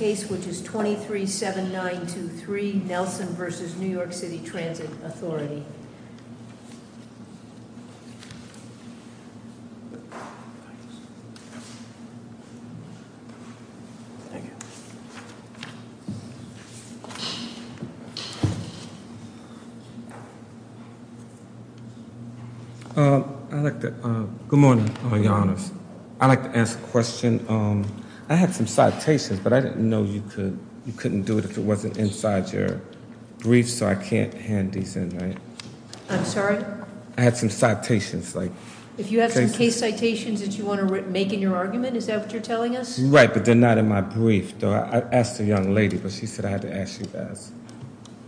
Case 23-7923, Nelson v. New York City Transit Authority. Good morning, Your Honors. I'd like to ask a question. I had some citations, but I didn't know you couldn't do it if it wasn't inside your brief, so I can't hand these in, right? I'm sorry? I had some citations. If you have some case citations that you want to make in your argument, is that what you're telling us? Right, but they're not in my brief. I asked a young lady, but she said I had to ask you guys.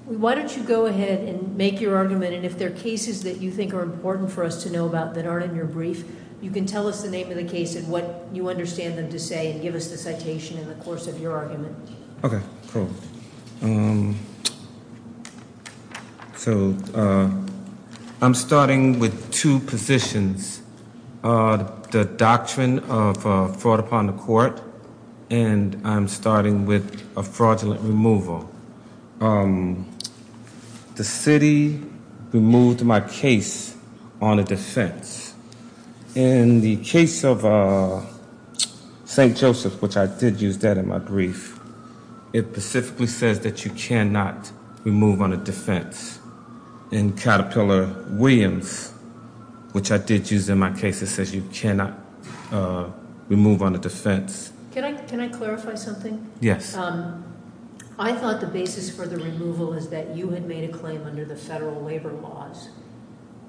Why don't you go ahead and make your argument, and if there are cases that you think are important for us to know about that aren't in your brief, you can tell us the name of the case and what you understand them to say, and give us the citation in the course of your argument. Okay, cool. So, I'm starting with two positions. The doctrine of fraud upon the court, and I'm starting with a fraudulent removal. The city removed my case on a defense. In the case of St. Joseph, which I did use that in my brief, it specifically says that you cannot remove on a defense. In Caterpillar Williams, which I did use in my case, it says you cannot remove on a defense. Can I clarify something? Yes. I thought the basis for the removal is that you had made a claim under the federal labor laws,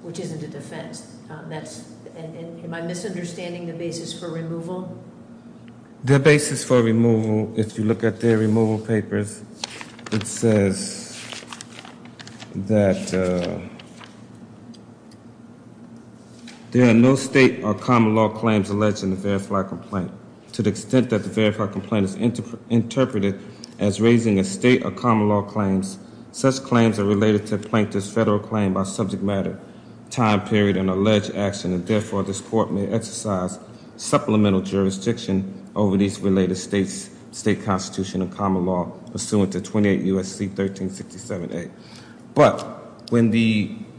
which isn't a defense. Am I misunderstanding the basis for removal? The basis for removal, if you look at their removal papers, it says that there are no state or common law claims alleged in the verified complaint. To the extent that the verified complaint is interpreted as raising a state or common law claims, such claims are related to a plaintiff's federal claim by subject matter, time period, and alleged action, and therefore this court may exercise supplemental jurisdiction over these related states, state constitution, and common law pursuant to 28 U.S.C. 1367A. But, when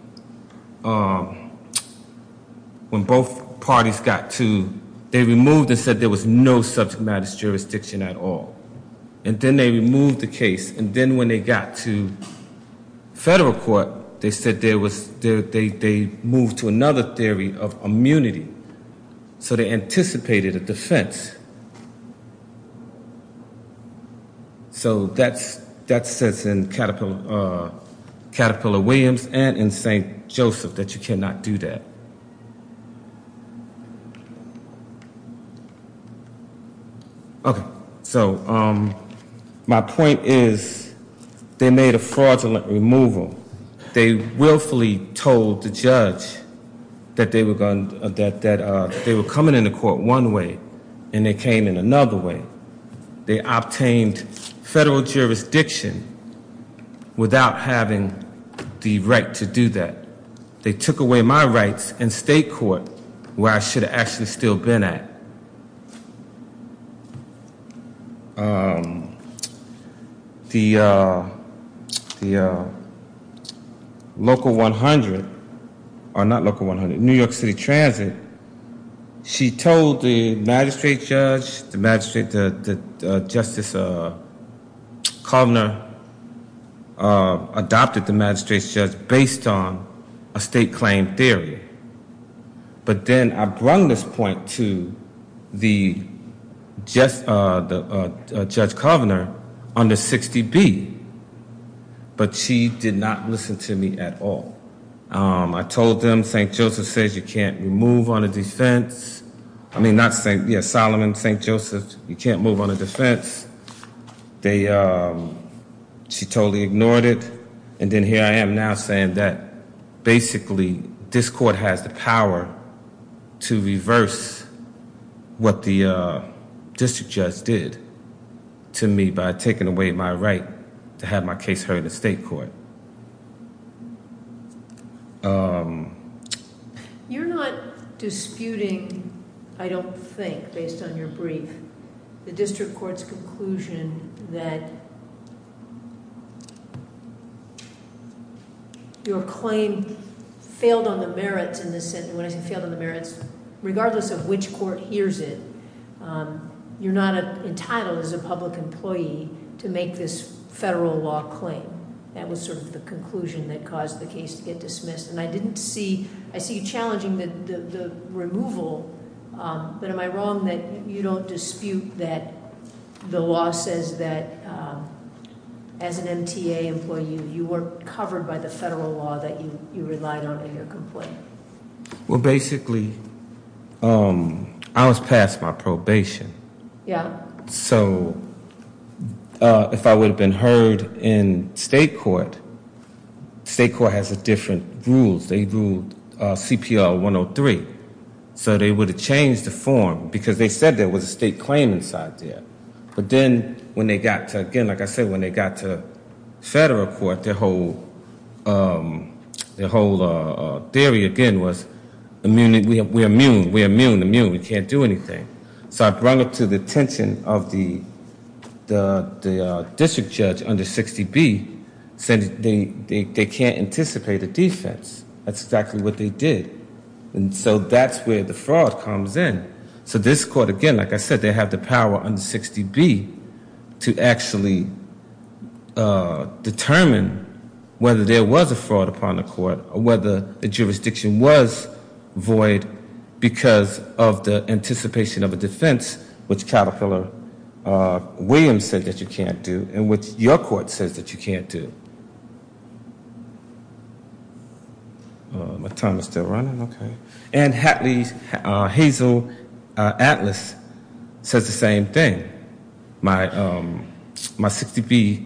both parties got to, they removed and said there was no subject matter jurisdiction at all. And then they removed the case, and then when they got to federal court, they said they moved to another theory of immunity. So they anticipated a defense. So that says in Caterpillar Williams and in St. Joseph that you cannot do that. Okay. So my point is they made a fraudulent removal. They willfully told the judge that they were coming into court one way, and they came in another way. They obtained federal jurisdiction without having the right to do that. They took away my rights in state court where I should have actually still been at. The local 100, or not local 100, New York City Transit, she told the magistrate judge, the magistrate, the Justice Kovner, Kovner adopted the magistrate's judge based on a state claim theory. But then I brung this point to the Judge Kovner under 60B, but she did not listen to me at all. I told them St. Joseph says you can't move on a defense. I mean, Solomon, St. Joseph, you can't move on a defense. She totally ignored it. And then here I am now saying that basically this court has the power to reverse what the district judge did to me by taking away my right to have my case heard in state court. You're not disputing, I don't think, based on your brief. The district court's conclusion that your claim failed on the merits in this sentence. When I say failed on the merits, regardless of which court hears it, you're not entitled as a public employee to make this federal law claim. That was sort of the conclusion that caused the case to get dismissed. And I didn't see, I see you challenging the removal, but am I wrong that you don't dispute that the law says that as an MTA employee, you weren't covered by the federal law that you relied on in your complaint? Well, basically, I was passed my probation. Yeah. So if I would have been heard in state court, state court has different rules. They ruled CPL 103. So they would have changed the form because they said there was a state claim inside there. But then when they got to, again, like I said, when they got to federal court, their whole theory again was we're immune, we're immune, immune, we can't do anything. So I brought it to the attention of the district judge under 60B, said they can't anticipate a defense. That's exactly what they did. And so that's where the fraud comes in. So this court, again, like I said, they have the power under 60B to actually determine whether there was a fraud upon the court or whether the jurisdiction was void because of the anticipation of a defense, which Caterpillar Williams said that you can't do and which your court says that you can't do. My time is still running. And Hatley Hazel Atlas says the same thing. My 60B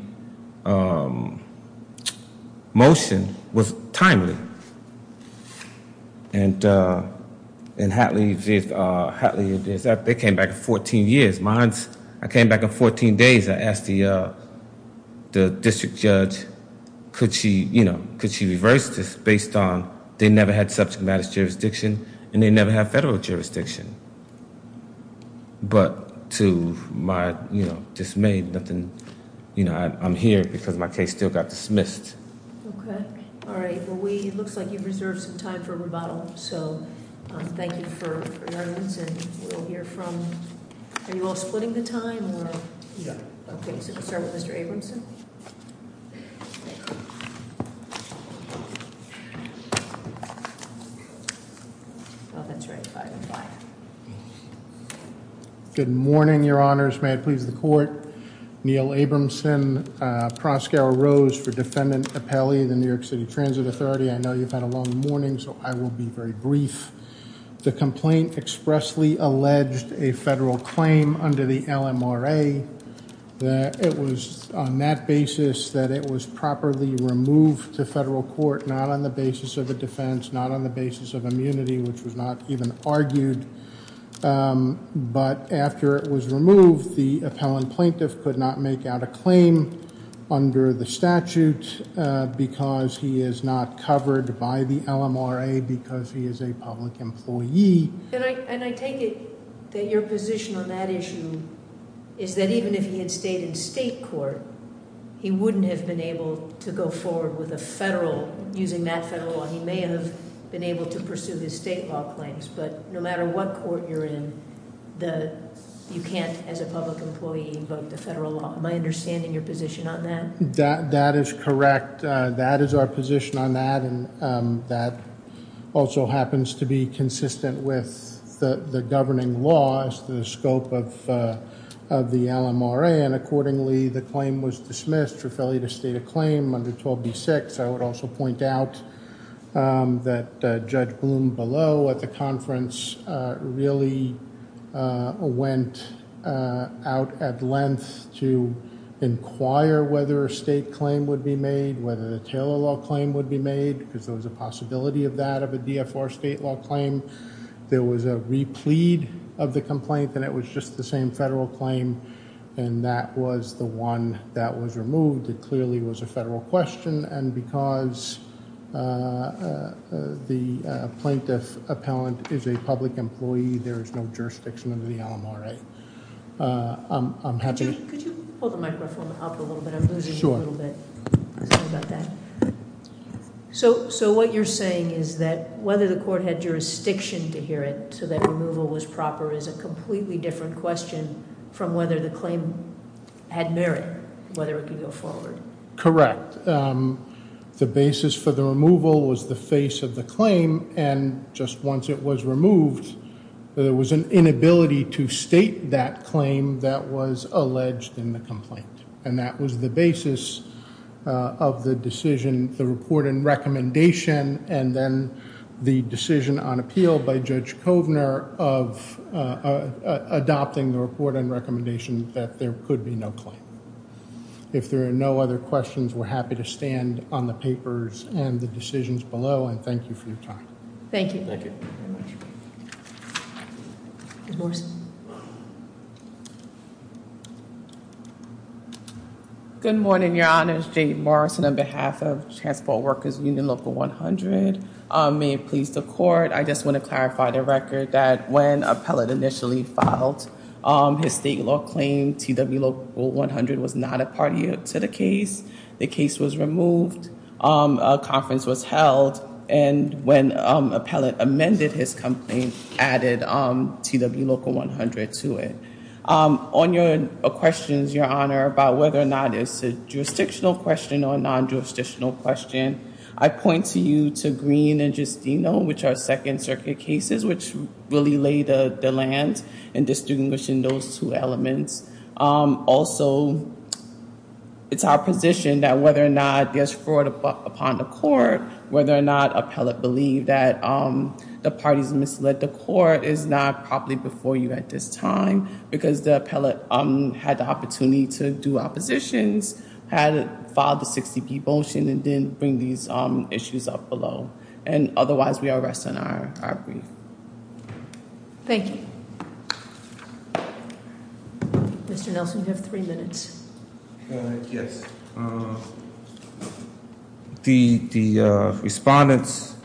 motion was timely. And Hatley, they came back in 14 years. Mine's, I came back in 14 days. I asked the district judge could she, you know, could she reverse this based on they never had subject matter jurisdiction and they never had federal jurisdiction. But to my, you know, dismay, nothing, you know, I'm here because my case still got dismissed. Okay. All right. Well, we, it looks like you've reserved some time for rebuttal. So thank you for your evidence and we'll hear from, are you all splitting the time? Yeah. Okay. So we'll start with Mr. Abramson. Good morning, Your Honors. May it please the court. Neal Abramson, Proskauer Rose for Defendant Capelli, the New York City Transit Authority. I know you've had a long morning, so I will be very brief. The complaint expressly alleged a federal claim under the LMRA. It was on that basis that it was properly removed to federal court, not on the basis of a defense, not on the basis of immunity, which was not even argued. But after it was removed, the appellant plaintiff could not make out a claim under the statute because he is not covered by the LMRA because he is a public employee. And I take it that your position on that issue is that even if he had stayed in state court, he wouldn't have been able to go forward with a federal, using that federal law. He may have been able to pursue his state law claims, but no matter what court you're in, you can't, as a public employee, invoke the federal law. Am I understanding your position on that? That is correct. That is our position on that, and that also happens to be consistent with the governing laws, the scope of the LMRA, and accordingly, the claim was dismissed. Referee to state a claim under 12D6. I would also point out that Judge Blum below at the conference really went out at length to inquire whether a state claim would be made, whether a Taylor law claim would be made, because there was a possibility of that, of a DFR state law claim. There was a replete of the complaint, and it was just the same federal claim, and that was the one that was removed. It clearly was a federal question, and because the plaintiff appellant is a public employee, there is no jurisdiction under the LMRA. Could you hold the microphone up a little bit? I'm losing you a little bit. Sorry about that. So what you're saying is that whether the court had jurisdiction to hear it so that removal was proper is a completely different question from whether the claim had merit, whether it could go forward. Correct. The basis for the removal was the face of the claim, and just once it was removed, there was an inability to state that claim that was alleged in the complaint, and that was the basis of the decision, the report and recommendation, and then the decision on appeal by Judge Kovner of adopting the report and recommendation that there could be no claim. If there are no other questions, we're happy to stand on the papers and the decisions below, and thank you for your time. Thank you. Thank you very much. Judge Morrison. Good morning, Your Honors. Jade Morrison on behalf of Transport Workers Union Local 100. May it please the court, I just want to clarify the record that when appellant initially filed his state law claim, TW Local 100 was not a party to the case. The case was removed. A conference was held, and when appellant amended his complaint, added TW Local 100 to it. On your questions, Your Honor, about whether or not it's a jurisdictional question or a non-jurisdictional question, I point to you to Green and Justino, which are Second Circuit cases, which really lay the land in distinguishing those two elements. Also, it's our position that whether or not there's fraud upon the court, whether or not appellant believe that the parties misled the court is not properly before you at this time, because the appellant had the opportunity to do oppositions, had to file the 60-P motion, and then bring these issues up below. And otherwise, we are resting on our brief. Thank you. Mr. Nelson, you have three minutes. Yes. The respondents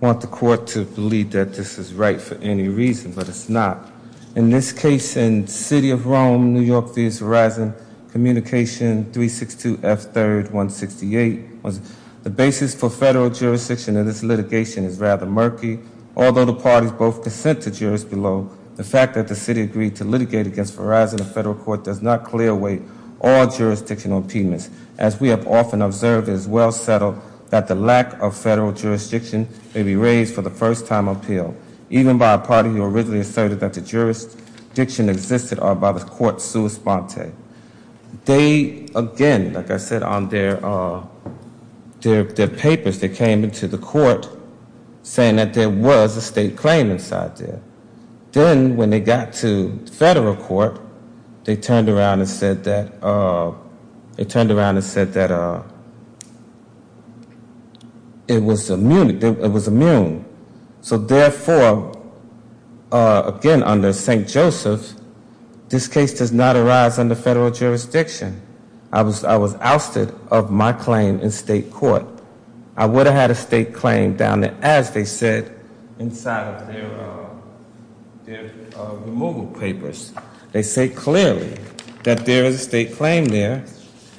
want the court to believe that this is right for any reason, but it's not. In this case, in City of Rome, New York-Vies Horizon, communication 362F3-168, the basis for federal jurisdiction in this litigation is rather murky. Although the parties both consent to jurors below, the fact that the city agreed to litigate against Verizon in federal court does not clear away all jurisdictional impediments, as we have often observed is well settled that the lack of federal jurisdiction may be raised for the first time appeal, even by a party who originally asserted that the jurisdiction existed are by the court's sua sponte. They, again, like I said, on their papers, they came into the court saying that there was a state claim inside there. Then when they got to federal court, they turned around and said that it was immune. So, therefore, again, under St. Joseph, this case does not arise under federal jurisdiction. I was ousted of my claim in state court. I would have had a state claim down there, as they said, inside of their removal papers. They say clearly that there is a state claim there,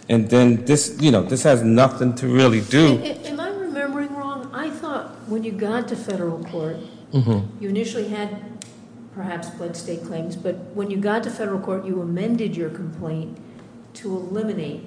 and then this has nothing to really do. Am I remembering wrong? I thought when you got to federal court, you initially had perhaps pledged state claims. But when you got to federal court, you amended your complaint to eliminate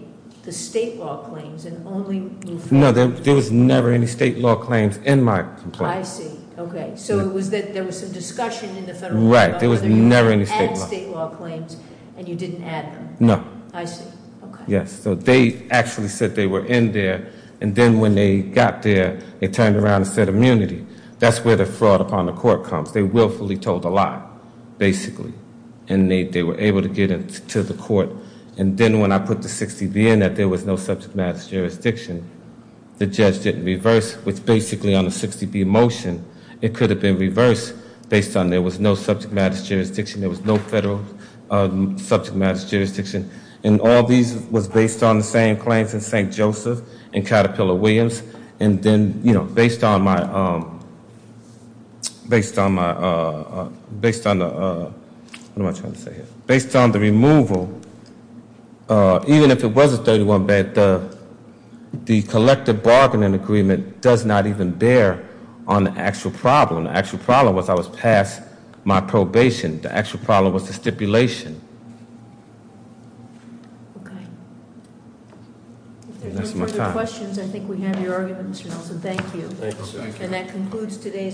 the state law claims, and only- No, there was never any state law claims in my complaint. I see. Okay. So, it was that there was some discussion in the federal court- Right. There was never any state law. And state law claims, and you didn't add them. No. I see. Okay. Yes. So, they actually said they were in there, and then when they got there, they turned around and said immunity. That's where the fraud upon the court comes. They willfully told a lie, basically, and they were able to get it to the court. And then when I put the 60B in that there was no subject matter jurisdiction, the judge didn't reverse, which basically on a 60B motion, it could have been reversed based on there was no subject matter jurisdiction, there was no federal subject matter jurisdiction. And all these was based on the same claims in St. Joseph and Caterpillar Williams. And then, you know, based on my- based on the- what am I trying to say here? Based on the removal, even if it was a 31B, the collective bargaining agreement does not even bear on the actual problem. The actual problem was I was passed my probation. The actual problem was the stipulation. Okay. If there are no further questions, I think we have your argument, Mr. Nelson. Thank you. Thank you, sir. And that concludes today's-